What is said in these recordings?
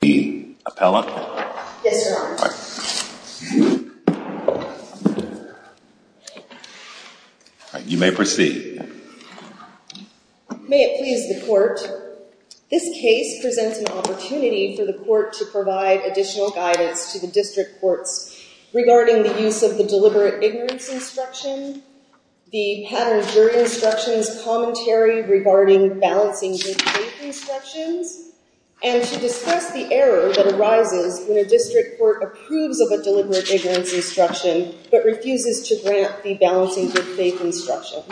be appellate? Yes, your honor. You may proceed. May it please the court, this case presents an opportunity for the court to provide additional guidance to the district courts regarding the use of the deliberate ignorance instruction, the pattern jury instructions commentary regarding balancing good faith instructions and to discuss the error that arises when a district court approves of a deliberate ignorance instruction but refuses to grant the balancing good faith instruction.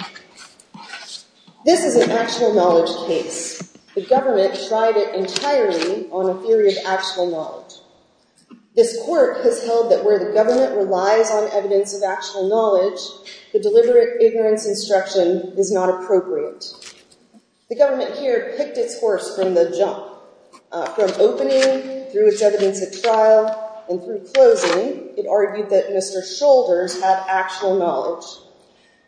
This is an actual knowledge case. The government tried it entirely on a theory of actual knowledge. This court has held that where the government relies on evidence of actual knowledge, the deliberate ignorance instruction is not appropriate. The government here picked its horse from the jump. From opening through its evidence at trial and through closing, it argued that Mr. Shoulders had actual knowledge.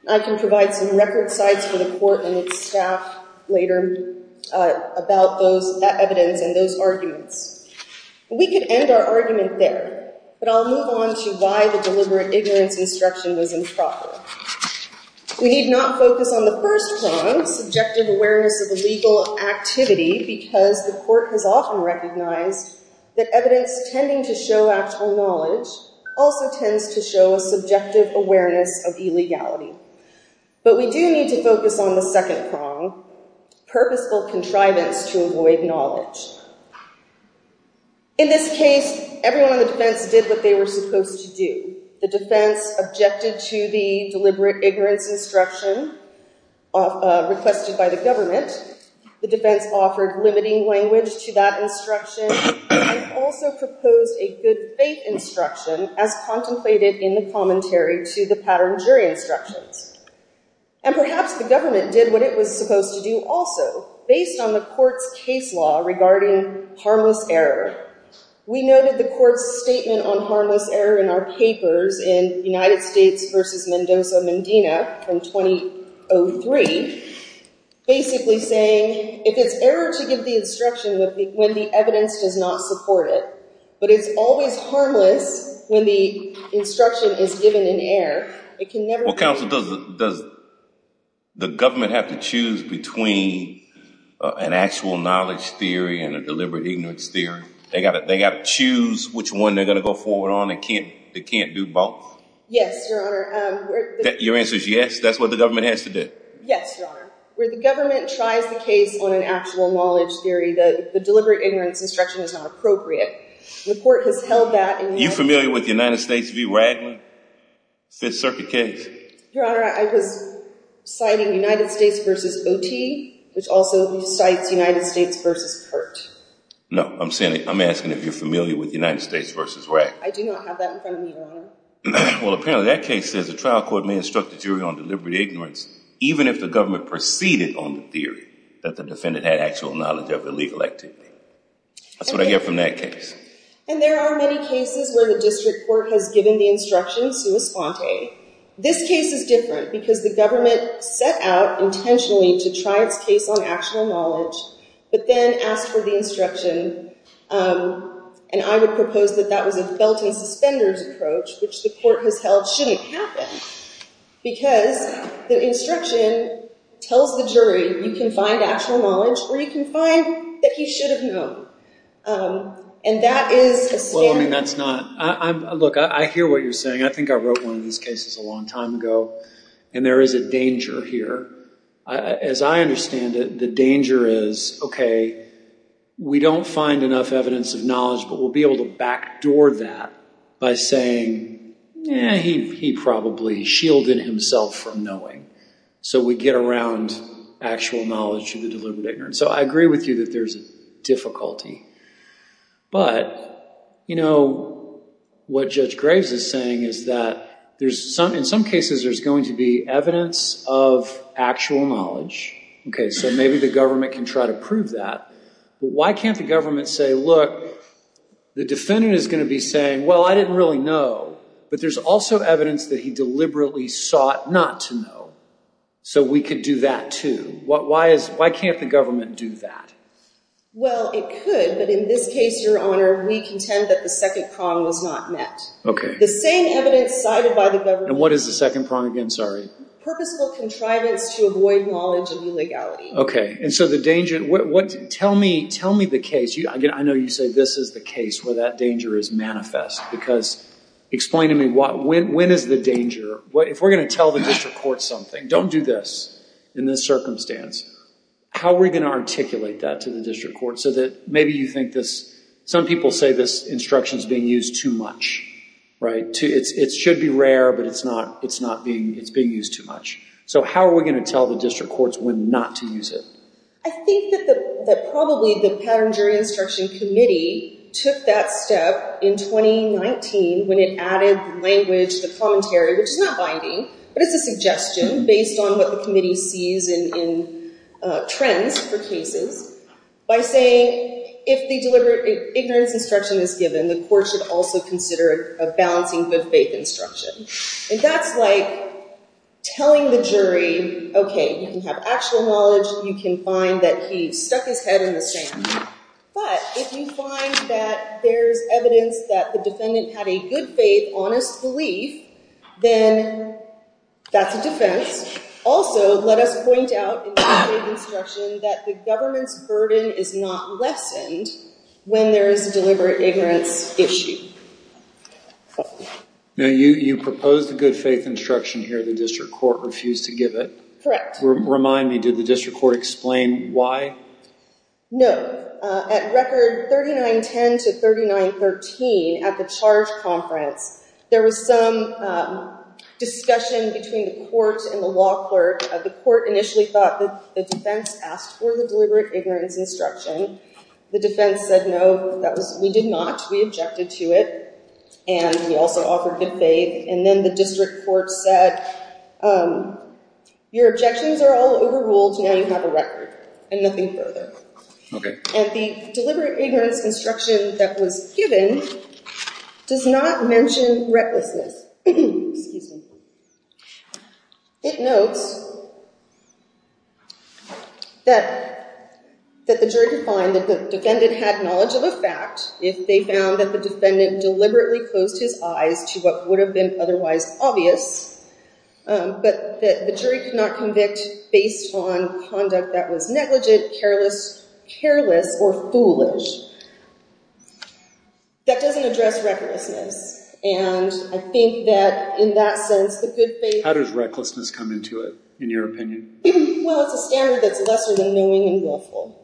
I can provide some record sites for the court and its staff later about those evidence and those arguments. We can end our argument there but I'll move on to why the deliberate ignorance instruction was improper. We need not focus on the first prong, subjective awareness of illegal activity, because the court has often recognized that evidence tending to show actual knowledge also tends to show a subjective awareness of illegality. But we do need to focus on the second prong, purposeful contrivance to avoid knowledge. In this case, everyone on the defense did what they were supposed to do. The defense objected to the deliberate ignorance instruction requested by the government. The defense offered limiting language to that instruction and also proposed a good faith instruction as contemplated in the commentary to the pattern jury instructions. And perhaps the government did what it was supposed to do also based on the court's case law regarding harmless error. We noted the court's statement on harmless error in our papers in United States v. Mendoza-Mendina from 2003, basically saying if it's error to give the instruction when the evidence does not support it, but it's always harmless when the instruction is given in error, it can never... Well counsel, does the government have to choose between an actual knowledge theory and a deliberate ignorance theory? They got to choose which one they're going to go forward on. They can't do both? Yes, your honor. Your answer is yes? That's what the government has to do? Yes, your honor. Where the government tries the case on an actual knowledge theory, the deliberate ignorance instruction is not appropriate. The court has held that... Are you familiar with United States v. Ragland, Fifth Circuit case? Your honor, I was citing United States v. Oti, which also cites United States v. Kurt. No, I'm saying, I'm asking if you're familiar with United States v. Ragland. I do not have that in front of me, your honor. Well apparently that case says the trial court may instruct the jury on deliberate ignorance even if the government proceeded on the theory that the defendant had actual knowledge of illegal activity. That's what I get from that case. And there are many cases where the district court has given the instruction sua sponte. This case is different because the government set out intentionally to try its case on actual knowledge, but then asked for the instruction. And I would propose that that was a felting suspenders approach, which the court has held shouldn't happen. Because the instruction tells the jury you can find actual knowledge or you can find that he should have known. And that is the standard. Well, I mean that's not... Look, I hear what you're saying. I think I wrote one of these cases a long time ago, and there is a danger here. As I understand it, the danger is, okay, we don't find enough evidence of knowledge, but we'll be able to backdoor that by saying, yeah, he probably shielded himself from knowing. So we get around actual knowledge of the deliberate ignorance. So I agree with you that there's a difficulty. But, you know, what Judge Graves is saying is that in some cases there's going to be evidence of actual knowledge. Okay, so maybe the government can try to prove that. But why can't the government say, look, the defendant is going to be saying, well, I didn't really know. But there's also evidence that he deliberately sought not to know. So we could do that too. Why can't the government do that? Well, it could, but in this case, Your Honor, we contend that the second prong was not met. Okay. The same evidence cited by the government... And what is the second prong again? Sorry. Purposeful contrivance to avoid knowledge of illegality. Okay, and so the danger... Tell me the case. I know you say this is the case where that danger is manifest. Because explain to me, when is the danger? If we're going to tell the district court something, don't do this in this circumstance, how are we going to articulate that to the district court so that maybe you think this... Some people say this instruction is being used too much, right? It should be rare, but it's being used too much. So how are we going to tell the district courts when not to use it? I think that probably the Pattern Jury Instruction Committee took that step in 2019 when it added language, the commentary, which is not but it's a suggestion based on what the committee sees in trends for cases by saying, if the deliberate ignorance instruction is given, the court should also consider a balancing good faith instruction. And that's like telling the jury, okay, you can have actual knowledge, you can find that he stuck his head in the sand. But if you find that there's evidence that the defendant had a good faith, honest belief, then that's a defense. Also, let us point out in the instruction that the government's burden is not lessened when there is a deliberate ignorance issue. Now, you proposed a good faith instruction here, the district court refused to give it. Remind me, did the district court explain why? No. At record 3910 to 3913 at the charge conference, there was some discussion between the court and the law clerk. The court initially thought that the defense asked for the deliberate ignorance instruction. The defense said, no, that was, we did not. We objected to it. And we also offered good faith. And then the district court said, your objections are all overruled, now you have a record and nothing further. And the deliberate ignorance instruction that was given does not mention recklessness. It notes that the jury could find that the defendant had knowledge of a fact if they found that the defendant deliberately closed his eyes to what would have been otherwise obvious, but that the jury could not convict based on conduct that was negligent, careless, careless, or foolish. That doesn't address recklessness. And I think that in that sense, the good faith... How does recklessness come into it, in your opinion? Well, it's a standard that's lesser than knowing and willful.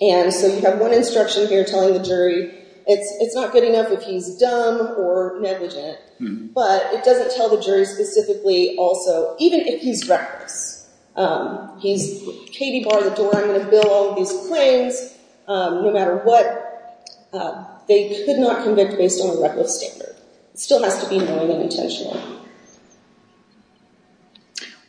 And so you have one instruction here telling the jury it's not good enough if he's dumb or negligent, but it doesn't tell the jury specifically also, even if he's reckless. He's, Katie, bar the door, I'm going to bill all these claims. No matter what, they could not convict based on a reckless standard. It still has to be knowing and intentional.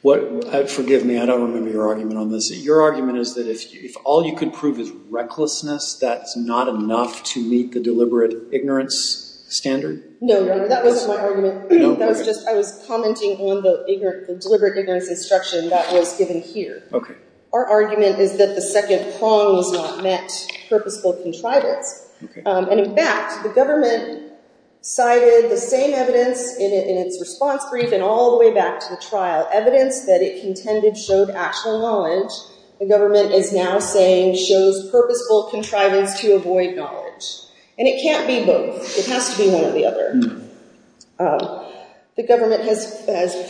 What, forgive me, I don't remember your argument on this. Your argument is that if all you could prove is recklessness, that's not enough to meet the deliberate ignorance standard? No, that wasn't my argument. That was just, I was commenting on the deliberate ignorance instruction that was given here. Our argument is that the second prong was not met, purposeful contrivance. And in fact, the government cited the same evidence in its response brief and all the way back to the trial, evidence that it contended showed actual knowledge the government is now saying shows purposeful contrivance to avoid knowledge. And it can't be both. It has to be one or the other. The government has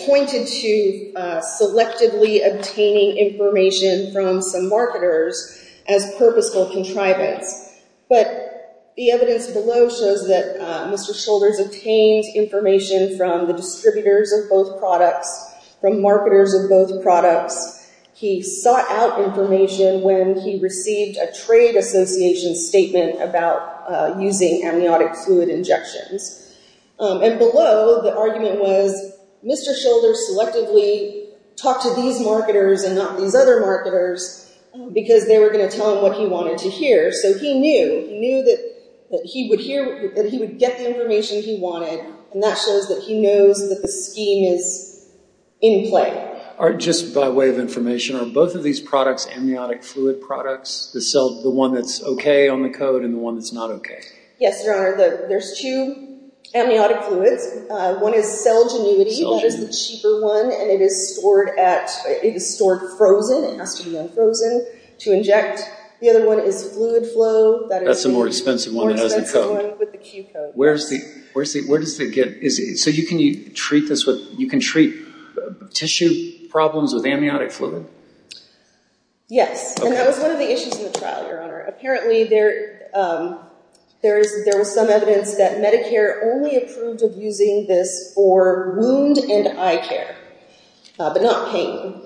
pointed to selectively obtaining information from some marketers as purposeful contrivance. But the evidence below shows that Mr. Shoulders obtained information from the distributors of products, from marketers of both products. He sought out information when he received a trade association statement about using amniotic fluid injections. And below the argument was Mr. Shoulders selectively talked to these marketers and not these other marketers because they were going to tell him what he wanted to hear. So he knew, he knew that he would hear, that he would get the information he wanted. And that shows that he knows that the scheme is in play. Just by way of information, are both of these products amniotic fluid products, the one that's okay on the code and the one that's not okay? Yes, Your Honor. There's two amniotic fluids. One is Celgenuity. That is the cheaper one. And it is stored at, it is stored frozen. It has to be unfrozen to inject. The other one is fluid flow. That's the more expensive one that has a code. Where's the, where's the, where does So you can treat this with, you can treat tissue problems with amniotic fluid. Yes. And that was one of the issues in the trial, Your Honor. Apparently there, there is, there was some evidence that Medicare only approved of using this for wound and eye care, but not pain.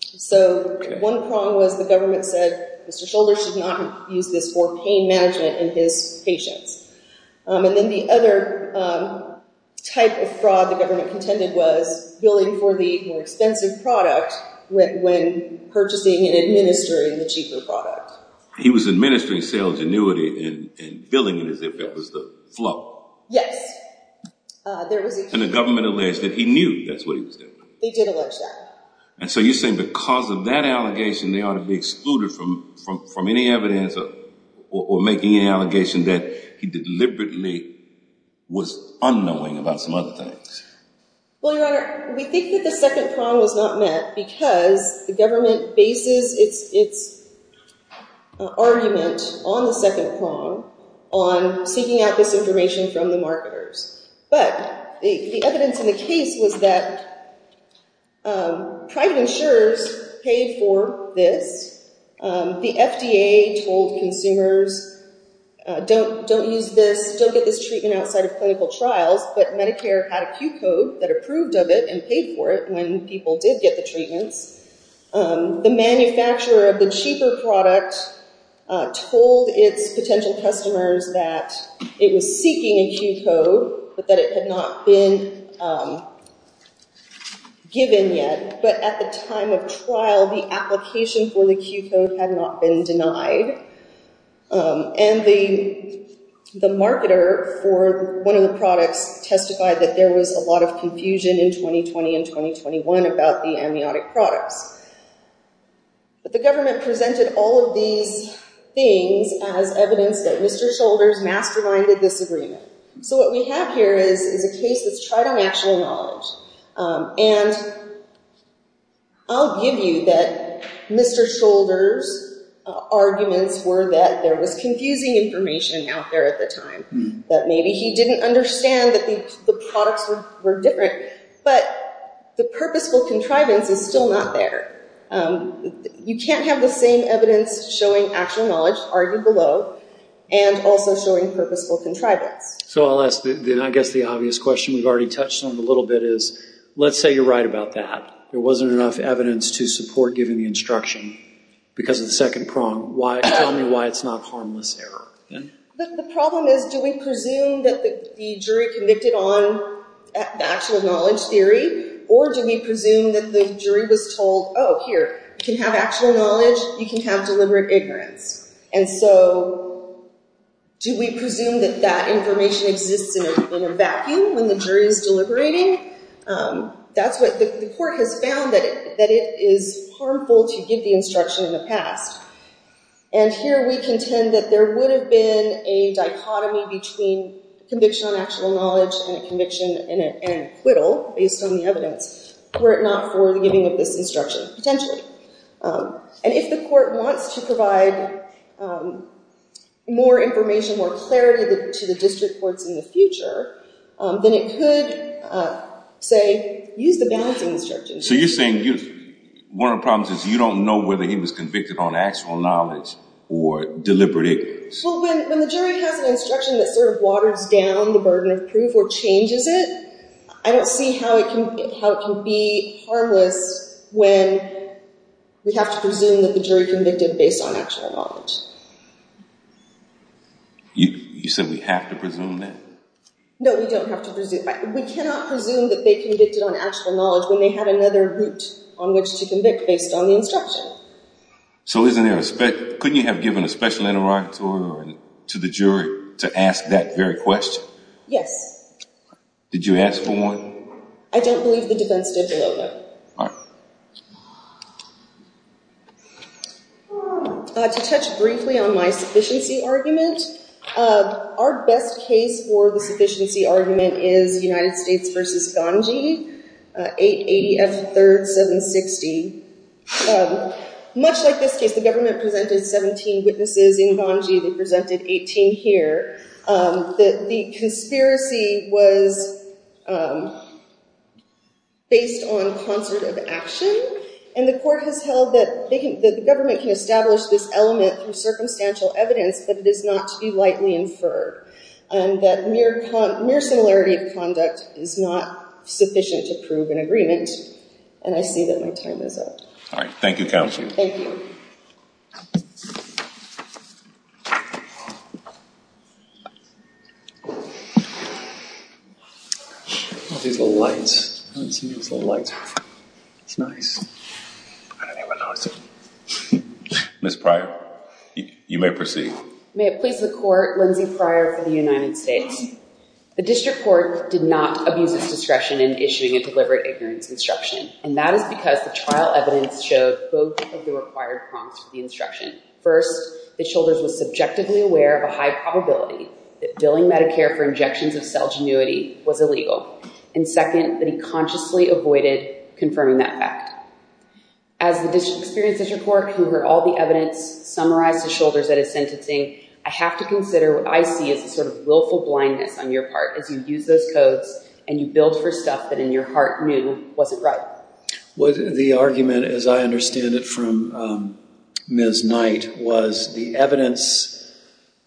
So one prong was the government said, Mr. Shoulders should not use this for pain management in his patients. And then the other type of fraud the government contended was billing for the more expensive product when purchasing and administering the cheaper product. He was administering Celgenuity and billing it as if that was the flow. Yes. And the government alleged that he knew that's what he was doing. They did allege that. And so you're saying because of that allegation, they ought to be excluded from, from, from any evidence or making any allegation that he deliberately was unknowing about some other things. Well, Your Honor, we think that the second prong was not met because the government bases its, its argument on the second prong on seeking out this information from the marketers. But the evidence in the case was that private insurers paid for this. The FDA told consumers, don't, don't use this. Don't get this treatment outside of clinical trials. But Medicare had a cue code that approved of it and paid for it when people did get the treatments. The manufacturer of the cheaper product told its potential customers that it was seeking a cue code, but that it had not been given yet. But at the time of trial, the application for the cue code had not been denied. And the, the marketer for one of the products testified that there was a lot of confusion in 2020 and 2021 about the amniotic products. But the government presented all of these things as evidence that Mr. Shoulders masterminded this agreement. So what we have here is, is a case that's tried on actual knowledge. And I'll give you that Mr. Shoulders' arguments were that there was confusing information out there at the time, that maybe he didn't understand that the, the products were, were different, but the purposeful contrivance is still not there. You can't have the same evidence showing actual knowledge argued below and also showing purposeful contrivance. So I'll ask the, I guess the obvious question we've already touched on a little bit is, let's say you're right about that. There wasn't enough evidence to support giving the instruction because of the second prong. Why, tell me why it's not harmless error? The problem is, do we presume that the jury convicted on the actual knowledge theory, or do we presume that the jury was told, oh, here, you can have actual knowledge, you can have deliberate ignorance. And so do we presume that that information exists in a vacuum when the jury is deliberating? That's what the court has found that, that it is harmful to give the instruction in the past. And here we contend that there would have been a dichotomy between conviction on actual knowledge and a conviction and acquittal based on the evidence, were it not for the giving of this instruction, potentially. And if the court wants to provide more information, more clarity to the district courts in the future, then it could, say, use the balancing instruction. So you're saying one of the problems is you don't know whether he was convicted on actual knowledge or deliberate ignorance. Well, when the jury has an instruction that sort of waters down the burden of proof or changes it, I don't see how it can be harmless when we have to presume that the jury convicted based on actual knowledge. You said we have to presume that? No, we don't have to presume. We cannot presume that they convicted on actual knowledge when they had another route on which to convict based on the instruction. So couldn't you have given a special interrogatory to the jury to ask that very question? Yes. Did you ask for one? I don't believe the defense did below that. To touch briefly on my sufficiency argument, our best case for the sufficiency argument is United States v. Ghanji, 880 F. 3rd, 760. Much like this case, the government presented 17 witnesses in Ghanji. They presented 18 here. The conspiracy was based on concert of action, and the court has held that the government can establish this element through circumstantial evidence, but it is not to be lightly inferred. That mere similarity of conduct is not sufficient to prove an agreement, and I see that my time is up. All right. Thank you, counsel. Thank you. I love these little lights. I haven't seen these little lights. It's nice. I don't even notice it. Ms. Pryor, you may proceed. May it please the court, Lindsay Pryor for the United States. The district court did not abuse its discretion in issuing a deliberate ignorance instruction, and that is because the trial evidence showed both of the required prompts for the instruction. First, that Shoulders was subjectively aware of a high probability that billing Medicare for injections of cell genuity was illegal, and second, that he consciously avoided confirming that fact. As the experienced district court who heard all the evidence summarize to Shoulders that his sentencing, I have to consider what I see as a sort of willful blindness on your part, as you use those codes and you build for stuff that in your heart knew wasn't right. The argument, as I understand it from Ms. Knight, was the evidence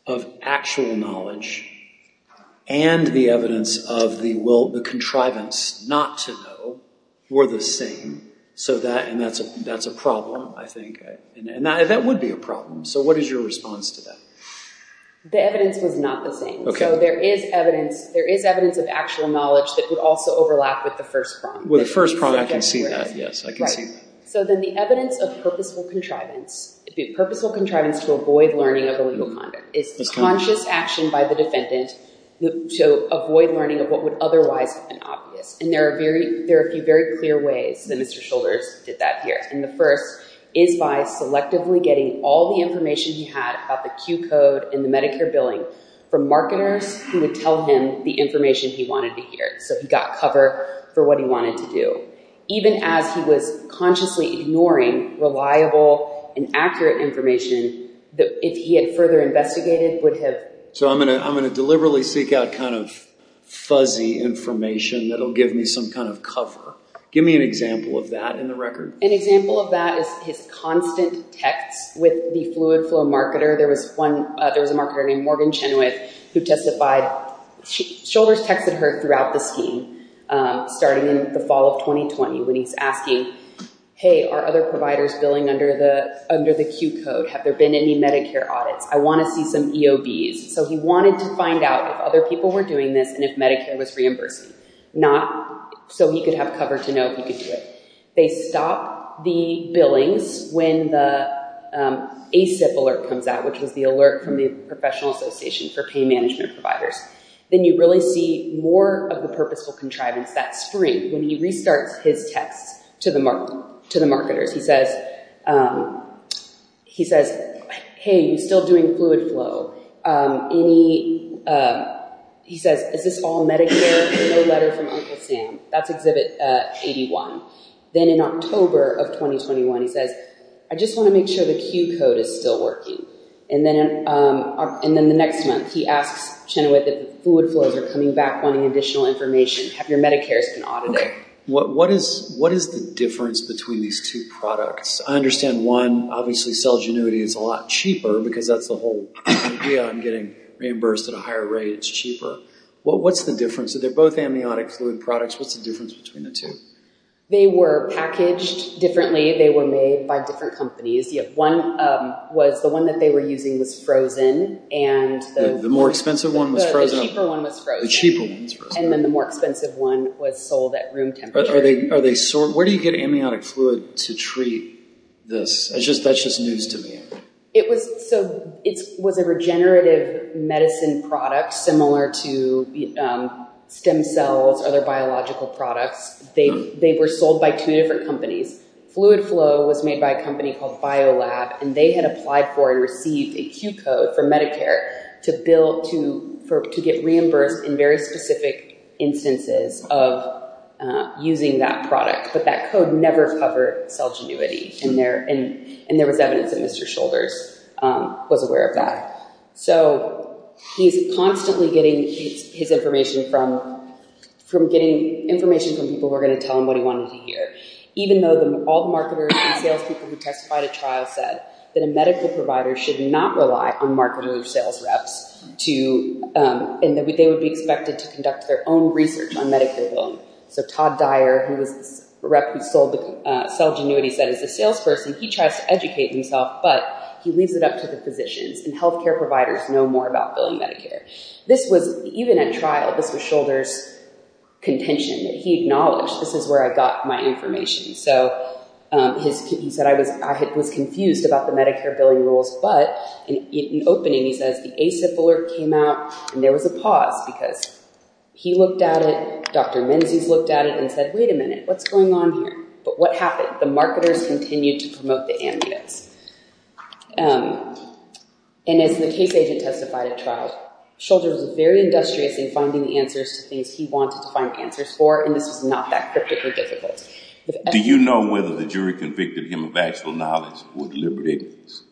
of actual knowledge and the evidence of the contrivance not to know were the same. And that's a problem, I think. And that would be a problem. So what is your response to that? The evidence was not the same. So there is evidence of actual knowledge that would also overlap with the first prompt. With the first prompt, I can see that. Yes, I can see that. So then the evidence of purposeful contrivance, the purposeful contrivance to avoid learning of illegal conduct is the conscious action by the defendant to avoid learning of what would otherwise have been obvious. And there are a few very clear ways that Mr. Shoulders did that here. And the first is by selectively getting all the information he had about the Q code and the Medicare billing from marketers who would tell him the information he wanted to hear. So he got cover for what he wanted to do, even as he was consciously ignoring reliable and accurate information that if he had further investigated would have. So I'm going to deliberately seek out kind of fuzzy information that'll give me some kind of cover. Give me an example of that in the record. An example of that is his constant texts with the fluid flow marketer. There was one, there was a marketer named Morgan Chenoweth who testified. Shoulders texted her throughout the scheme starting in the fall of 2020 when he's asking, hey, are other providers billing under the Q code? Have there been any Medicare audits? I want to see some EOBs. So he wanted to find out if other people were doing this and if Medicare was reimbursing. Not so he could have cover to know if he could do it. They stop the billings when the ASIP alert comes out, which was the alert from the Professional Association for Pay Management Providers. Then you really see more of the purposeful contrivance that spring when he restarts his texts to the marketers. He says, hey, you still doing fluid flow? He says, is this all from Uncle Sam? That's exhibit 81. Then in October of 2021, he says, I just want to make sure the Q code is still working. And then the next month he asks Chenoweth that fluid flows are coming back wanting additional information. Have your Medicare's been audited? What is the difference between these two products? I understand one, obviously cell genuity is a lot cheaper because that's the whole idea on getting reimbursed at a higher rate. It's cheaper. Well, what's the difference? So they're both amniotic fluid products. What's the difference between the two? They were packaged differently. They were made by different companies. Yep. One was the one that they were using was frozen and the more expensive one was frozen. And then the more expensive one was sold at room temperature. Are they, are they sore? Where do you get amniotic fluid to treat this? It's just, that's just news to me. It was, so it was a regenerative medicine product, similar to stem cells, other biological products. They, they were sold by two different companies. Fluid flow was made by a company called BioLab and they had applied for and received a Q code for Medicare to bill, to, for, to get reimbursed in very specific instances of using that product. But that code never covered cell genuity in there. And, and there was evidence that Mr. Shoulders was aware of that. So he's constantly getting his information from, from getting information from people who are going to tell him what he wanted to hear. Even though all the marketers and salespeople who testified at trial said that a medical provider should not rely on marketer sales reps to, and that they would be expected to conduct their own research on Medicare billing. So Todd Dyer, who was the rep who sold the cell genuity said as a salesperson, he tries to educate himself, but he leaves it up to the physicians and healthcare providers know more about billing Medicare. This was even at trial, this was Shoulders' contention that he acknowledged, this is where I got my information. So his, he said, I was, I was confused about the Medicare billing rules, but in opening, he says the ASIP alert came out and there was a pause because he looked at it, Dr. Menzies looked at it and said, wait a minute, what's going on here? But what happened? The marketers continued to promote the amniotes. And as the case agent testified at trial, Shoulders was very industrious in finding the answers to things he wanted to find answers for, and this was not that cryptically difficult. Do you know whether the jury convicted him of actual knowledge or deliberate ignorance?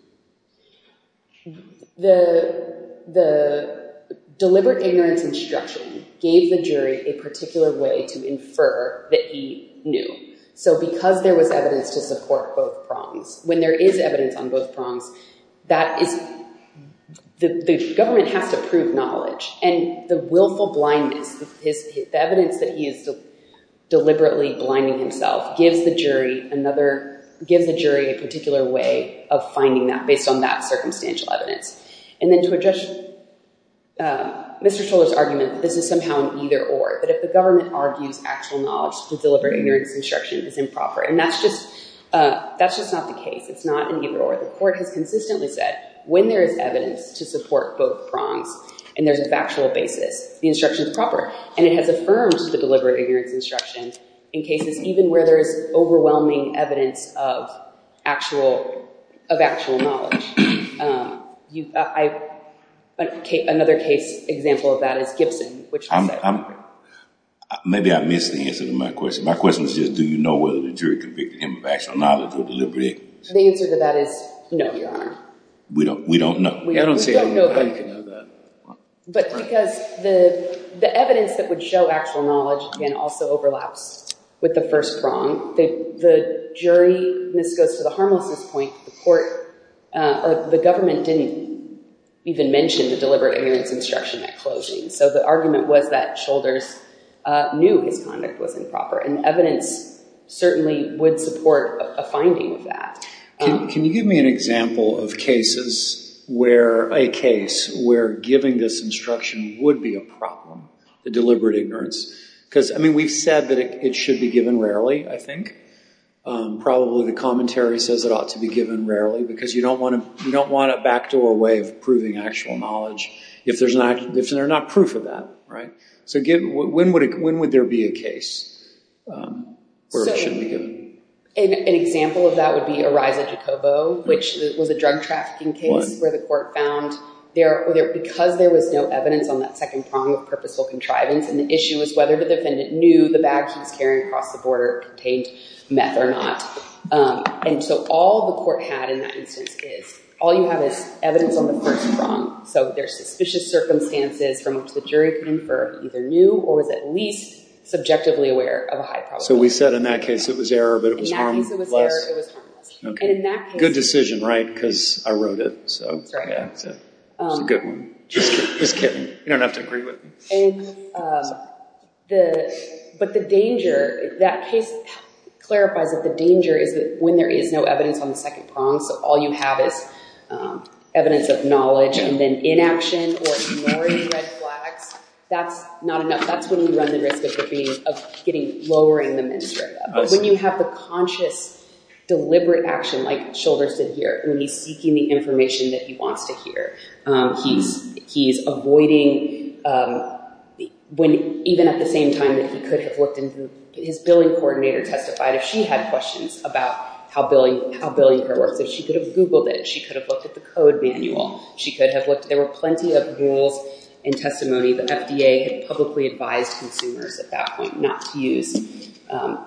The, the deliberate ignorance instruction gave the jury a particular way to infer that he knew. So because there was evidence to support both prongs, when there is evidence on both prongs, that is, the government has to prove knowledge and the willful blindness, his, the evidence that he is deliberately blinding himself gives the jury another, gives the jury a particular way of finding that based on that circumstantial evidence. And then to address Mr. Shoulders' argument, this is somehow an either or, but if the government argues actual knowledge, the deliberate ignorance instruction is improper. And that's just, that's just not the case. It's not an either or. The court has consistently said when there is evidence to support both prongs and there's a factual basis, the instruction is proper. And it has affirmed the deliberate ignorance instruction in cases even where there is overwhelming evidence of actual, of actual knowledge. You, I, another case example of that is Gibson. Maybe I missed the answer to my question. My question was just, do you know whether the jury convicted him of actual knowledge or deliberate ignorance? The answer to that is no, Your Honor. We don't, we don't know. I don't see how you can know that. But because the, the evidence that would show actual knowledge can also overlap with the first prong. The, the jury, and this goes to the harmlessness point, the court, the government didn't even mention the deliberate ignorance instruction at closing. So the argument was that Shoulders knew his conduct was improper and evidence certainly would support a finding of that. Can you give me an example of cases where, a case where giving this instruction would be a problem, the deliberate ignorance? Because, I mean, we've said that it should be given rarely, I think. Probably the commentary says it ought to be given rarely because you don't want to, you don't want it back to a way of proving actual knowledge if there's not, if there's not proof of that, right? So give, when would it, when would there be a case where it shouldn't be given? So an example of that would be Ariza Jacobo, which was a drug trafficking case where the court found there, because there was no evidence on that second prong of purposeful contrivance, and the issue was whether the defendant knew the bag he was border contained meth or not. And so all the court had in that instance is, all you have is evidence on the first prong. So there's suspicious circumstances from which the jury could infer he either knew or was at least subjectively aware of a high probability. So we said in that case it was error, but it was harmless. In that case it was error, it was harmless. And in that case... Good decision, right? Because I wrote it, so... That's right. That's a good one. Just kidding, just kidding. You don't have to agree with me. And the, but the danger, that case clarifies that the danger is that when there is no evidence on the second prong, so all you have is evidence of knowledge and then inaction or ignoring red flags, that's not enough. That's when you run the risk of getting, of getting, lowering the menstruator. But when you have the conscious, deliberate action, like Shilvers did here, when he's seeking the information that he wants to hear, he's, he's avoiding, when even at the same time that he could have looked into, his billing coordinator testified if she had questions about how billing, how billing care works, if she could have googled it, she could have looked at the code manual, she could have looked, there were plenty of rules and testimony. The FDA had publicly advised consumers at that point not to use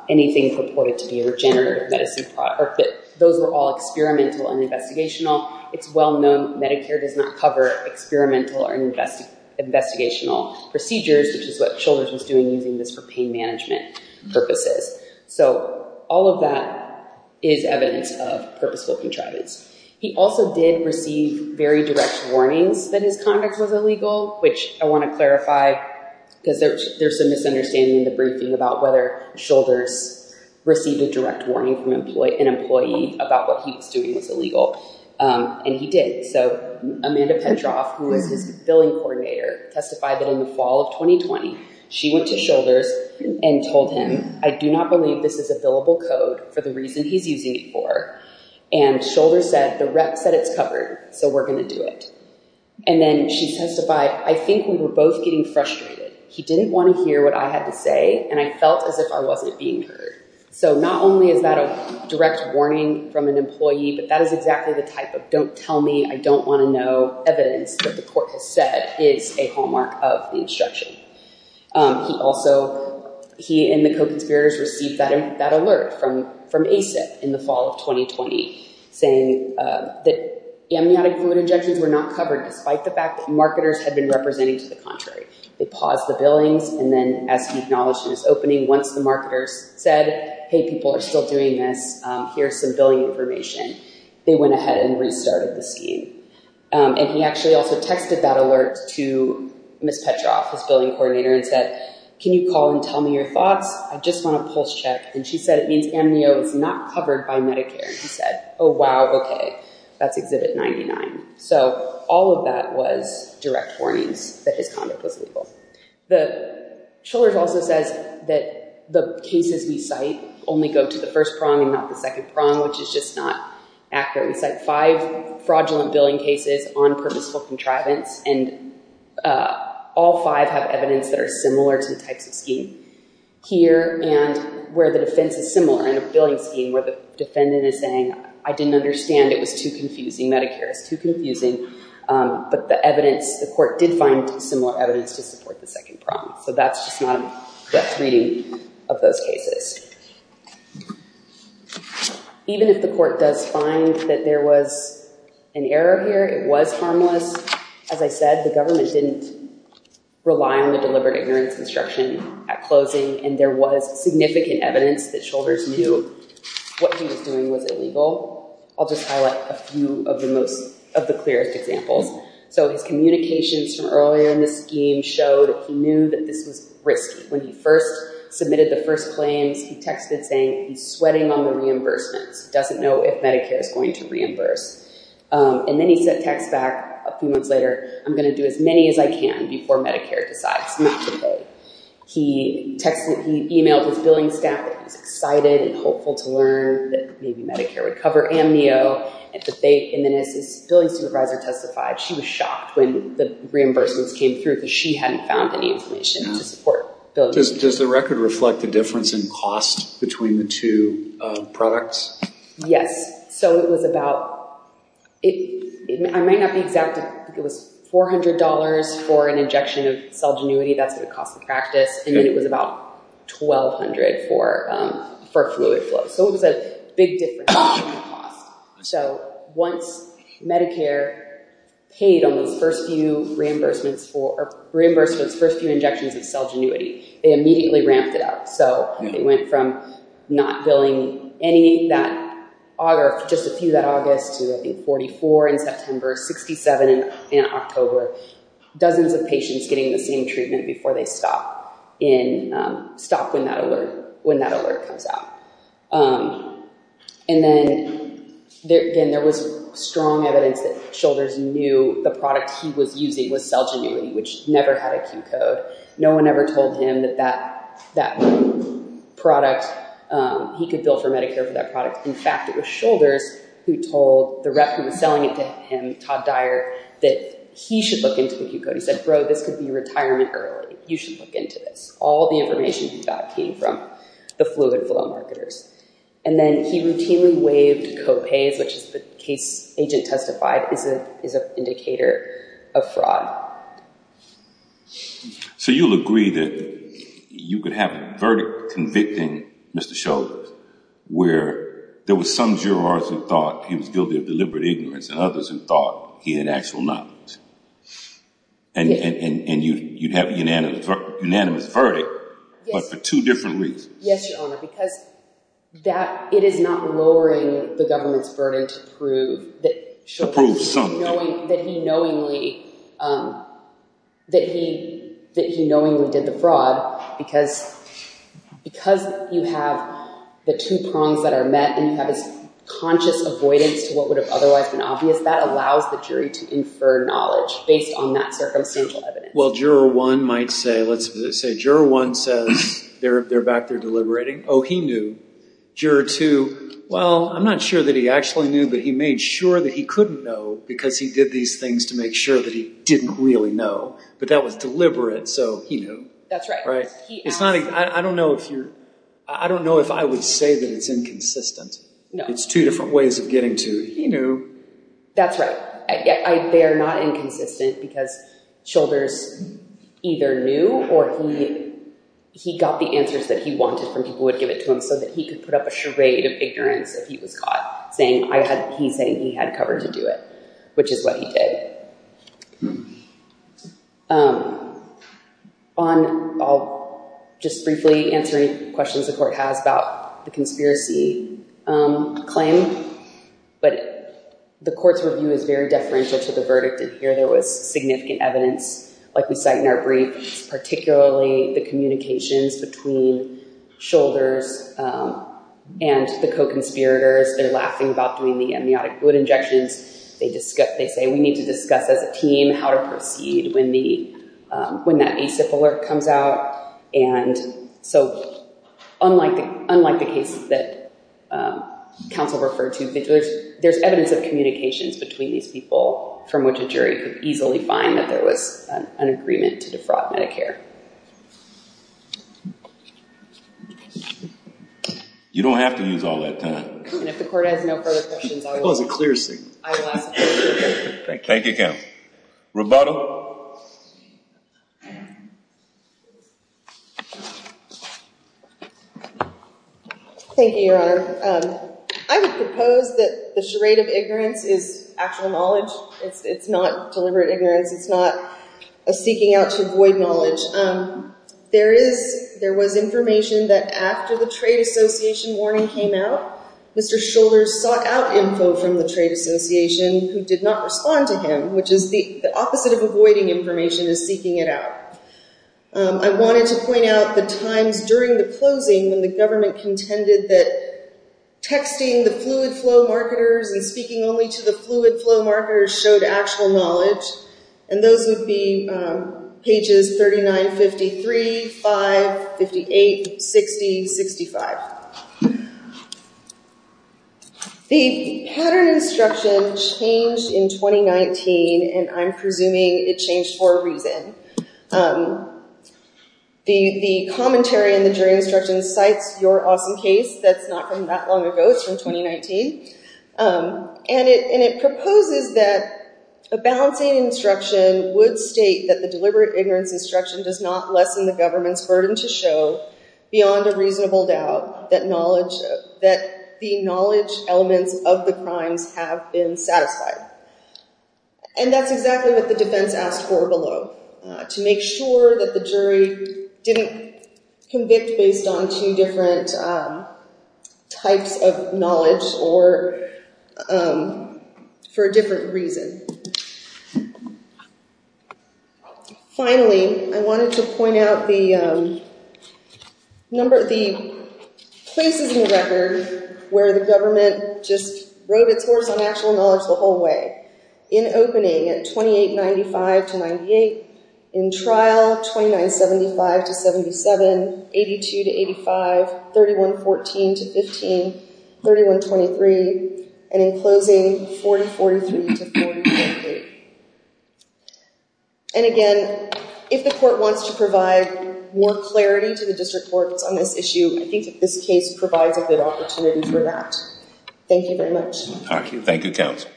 anything purported to be a regenerative medicine product, or that those were all experimental and investigational. It's well known Medicare does not cover experimental or invest, investigational procedures, which is what Shilvers was doing using this for pain management purposes. So all of that is evidence of purposeful contrivance. He also did receive very direct warnings that his conduct was illegal, which I want to clarify because there's, there's a misunderstanding in the briefing about whether Shilvers received a direct warning from employee, an employee about what he was doing was illegal. And he did. So Amanda Petroff, who is his billing coordinator, testified that in the fall of 2020, she went to Shilvers and told him, I do not believe this is a billable code for the reason he's using it for. And Shilvers said, the rep said it's covered, so we're going to do it. And then she testified, I think we were both getting frustrated. He didn't want to hear what I had to say. And I felt as if I wasn't being heard. So not only is that a direct warning from an employee, but that is exactly the type of don't tell me, I don't want to know evidence that the court has said is a hallmark of the instruction. He also, he and the co-conspirators received that, that alert from, from ASIP in the fall of 2020 saying that amniotic fluid injections were not covered, despite the fact that marketers had been representing to the contrary. They paused the billings. And then as he acknowledged in his opening, once the marketers said, Hey, people are still doing this. Here's some billing information. They went ahead and restarted the scheme. And he actually also texted that alert to Ms. Petroff, his billing coordinator and said, can you call and tell me your thoughts? I just want to pulse check. And she said, it means all of that was direct warnings that his conduct was legal. The Trillers also says that the cases we cite only go to the first prong and not the second prong, which is just not accurate. We cite five fraudulent billing cases on purposeful contrivance. And all five have evidence that are similar to the types of scheme here and where the defense is similar in a billing scheme where the defendant is saying, I didn't understand. It was too confusing. Medicare is too confusing. But the evidence, the court did find similar evidence to support the second prong. So that's just not a depth reading of those cases. Even if the court does find that there was an error here, it was harmless. As I said, the government didn't rely on the deliberate ignorance instruction at closing. And there was significant evidence that the Trillers knew what he was doing was illegal. I'll just highlight a few of the clearest examples. So his communications from earlier in the scheme showed he knew that this was risky. When he first submitted the first claims, he texted saying, he's sweating on the reimbursements. He doesn't know if Medicare is going to reimburse. And then he sent a text back a few months later, I'm going to do as many as I can before Medicare decides not to pay. He emailed his billing staff excited and hopeful to learn that maybe Medicare would cover amnio. And then his billing supervisor testified she was shocked when the reimbursements came through because she hadn't found any information to support. Does the record reflect the difference in cost between the two products? Yes. So it was about, it might not be exact, it was $400 for an injection of cell genuity. That's the cost of practice. And then it was about $1,200 for fluid flow. So it was a big difference. So once Medicare paid on those first few reimbursements for, or reimbursed those first few injections of cell genuity, they immediately ramped it up. So they went from not billing any that, or just a few that August to I think 44 in September, 67 in October. Dozens of patients getting the same treatment before they stop in, stop when that alert comes out. And then there was strong evidence that Shoulders knew the product he was using was cell genuity, which never had a Q code. No one ever told him that that product, he could bill for Medicare for that product. In fact, it was Shoulders who told the rep who was selling it to him, Todd Dyer, that he should look into the Q code. He said, bro, this could be retirement early. You should look into this. All the information he got came from the fluid flow marketers. And then he routinely waived co-pays, which is the case agent testified is an indicator of fraud. So you'll agree that you could have a verdict convicting Mr. Shoulders where there was some jurors who thought he was guilty of deliberate ignorance, and others who thought he had actual knowledge. And you'd have a unanimous verdict, but for two different reasons. Yes, Your Honor, because it is not lowering the government's burden to prove that Shoulders that he knowingly did the fraud. Because you have the two prongs that are met, and you have this conscious avoidance to what would have otherwise been obvious, that allows the jury to infer knowledge based on that circumstantial evidence. Well, juror one might say, let's say juror one says they're back there deliberating. Oh, he knew. Juror two, well, I'm not sure that he actually knew, but he made sure that he couldn't know because he did these things to make sure that he didn't really know. But that was deliberate, so he knew. That's right. I don't know if I would say that it's inconsistent. It's two different ways of getting to he knew. That's right. They're not inconsistent because Shoulders either knew or he got the answers that he wanted from people who would give it to him so that he could put up a charade of ignorance if he was caught. He's saying he had cover to do it, which is what he did. I'll just briefly answer any questions the court has about the conspiracy claim. But the court's review is very deferential to the verdict in here. There was significant evidence, like we cite in our brief, particularly the communications between Shoulders and the co-conspirators. They're laughing about doing the amniotic fluid injections. They say, we need to discuss as a team how to proceed when that ACIP alert comes out. Unlike the cases that counsel referred to, there's evidence of communications between these people from which a jury could easily find that there was an agreement to defraud Medicare. You don't have to use all that time. And if the court has no further questions, I will ask a question. Thank you, count. Roboto. Thank you, your honor. I would propose that the charade of ignorance is actual knowledge. It's not deliberate ignorance. It's not a seeking out to avoid knowledge. There was information that after the trade association warning came out, Mr. Shoulders sought out info from the trade association who did not respond to him, which is the opposite of avoiding information, is seeking it out. I wanted to point out the times during the closing when the government contended that texting the fluid flow marketers and speaking only to the fluid flow marketers, 2008, 60, 65. The pattern instruction changed in 2019, and I'm presuming it changed for a reason. The commentary in the jury instruction cites your awesome case. That's not from that long ago. It's from 2019. And it proposes that a balancing instruction would state that the beyond a reasonable doubt that the knowledge elements of the crimes have been satisfied. And that's exactly what the defense asked for below, to make sure that the jury didn't convict based on two different types of knowledge or for a different reason. Finally, I wanted to point out the places in the record where the government just wrote its horse on actual knowledge the whole way. In opening at 2895 to 98, in trial 2975 to 77, 82 to 85, 3114 to 15, 3123, and in closing 4043 to 4083. And again, if the court wants to provide more clarity to the district courts on this issue, I think that this case provides a good opportunity for that. Thank you very much. Thank you. Thank you, counsel.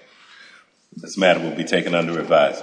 This matter will be taken under revise.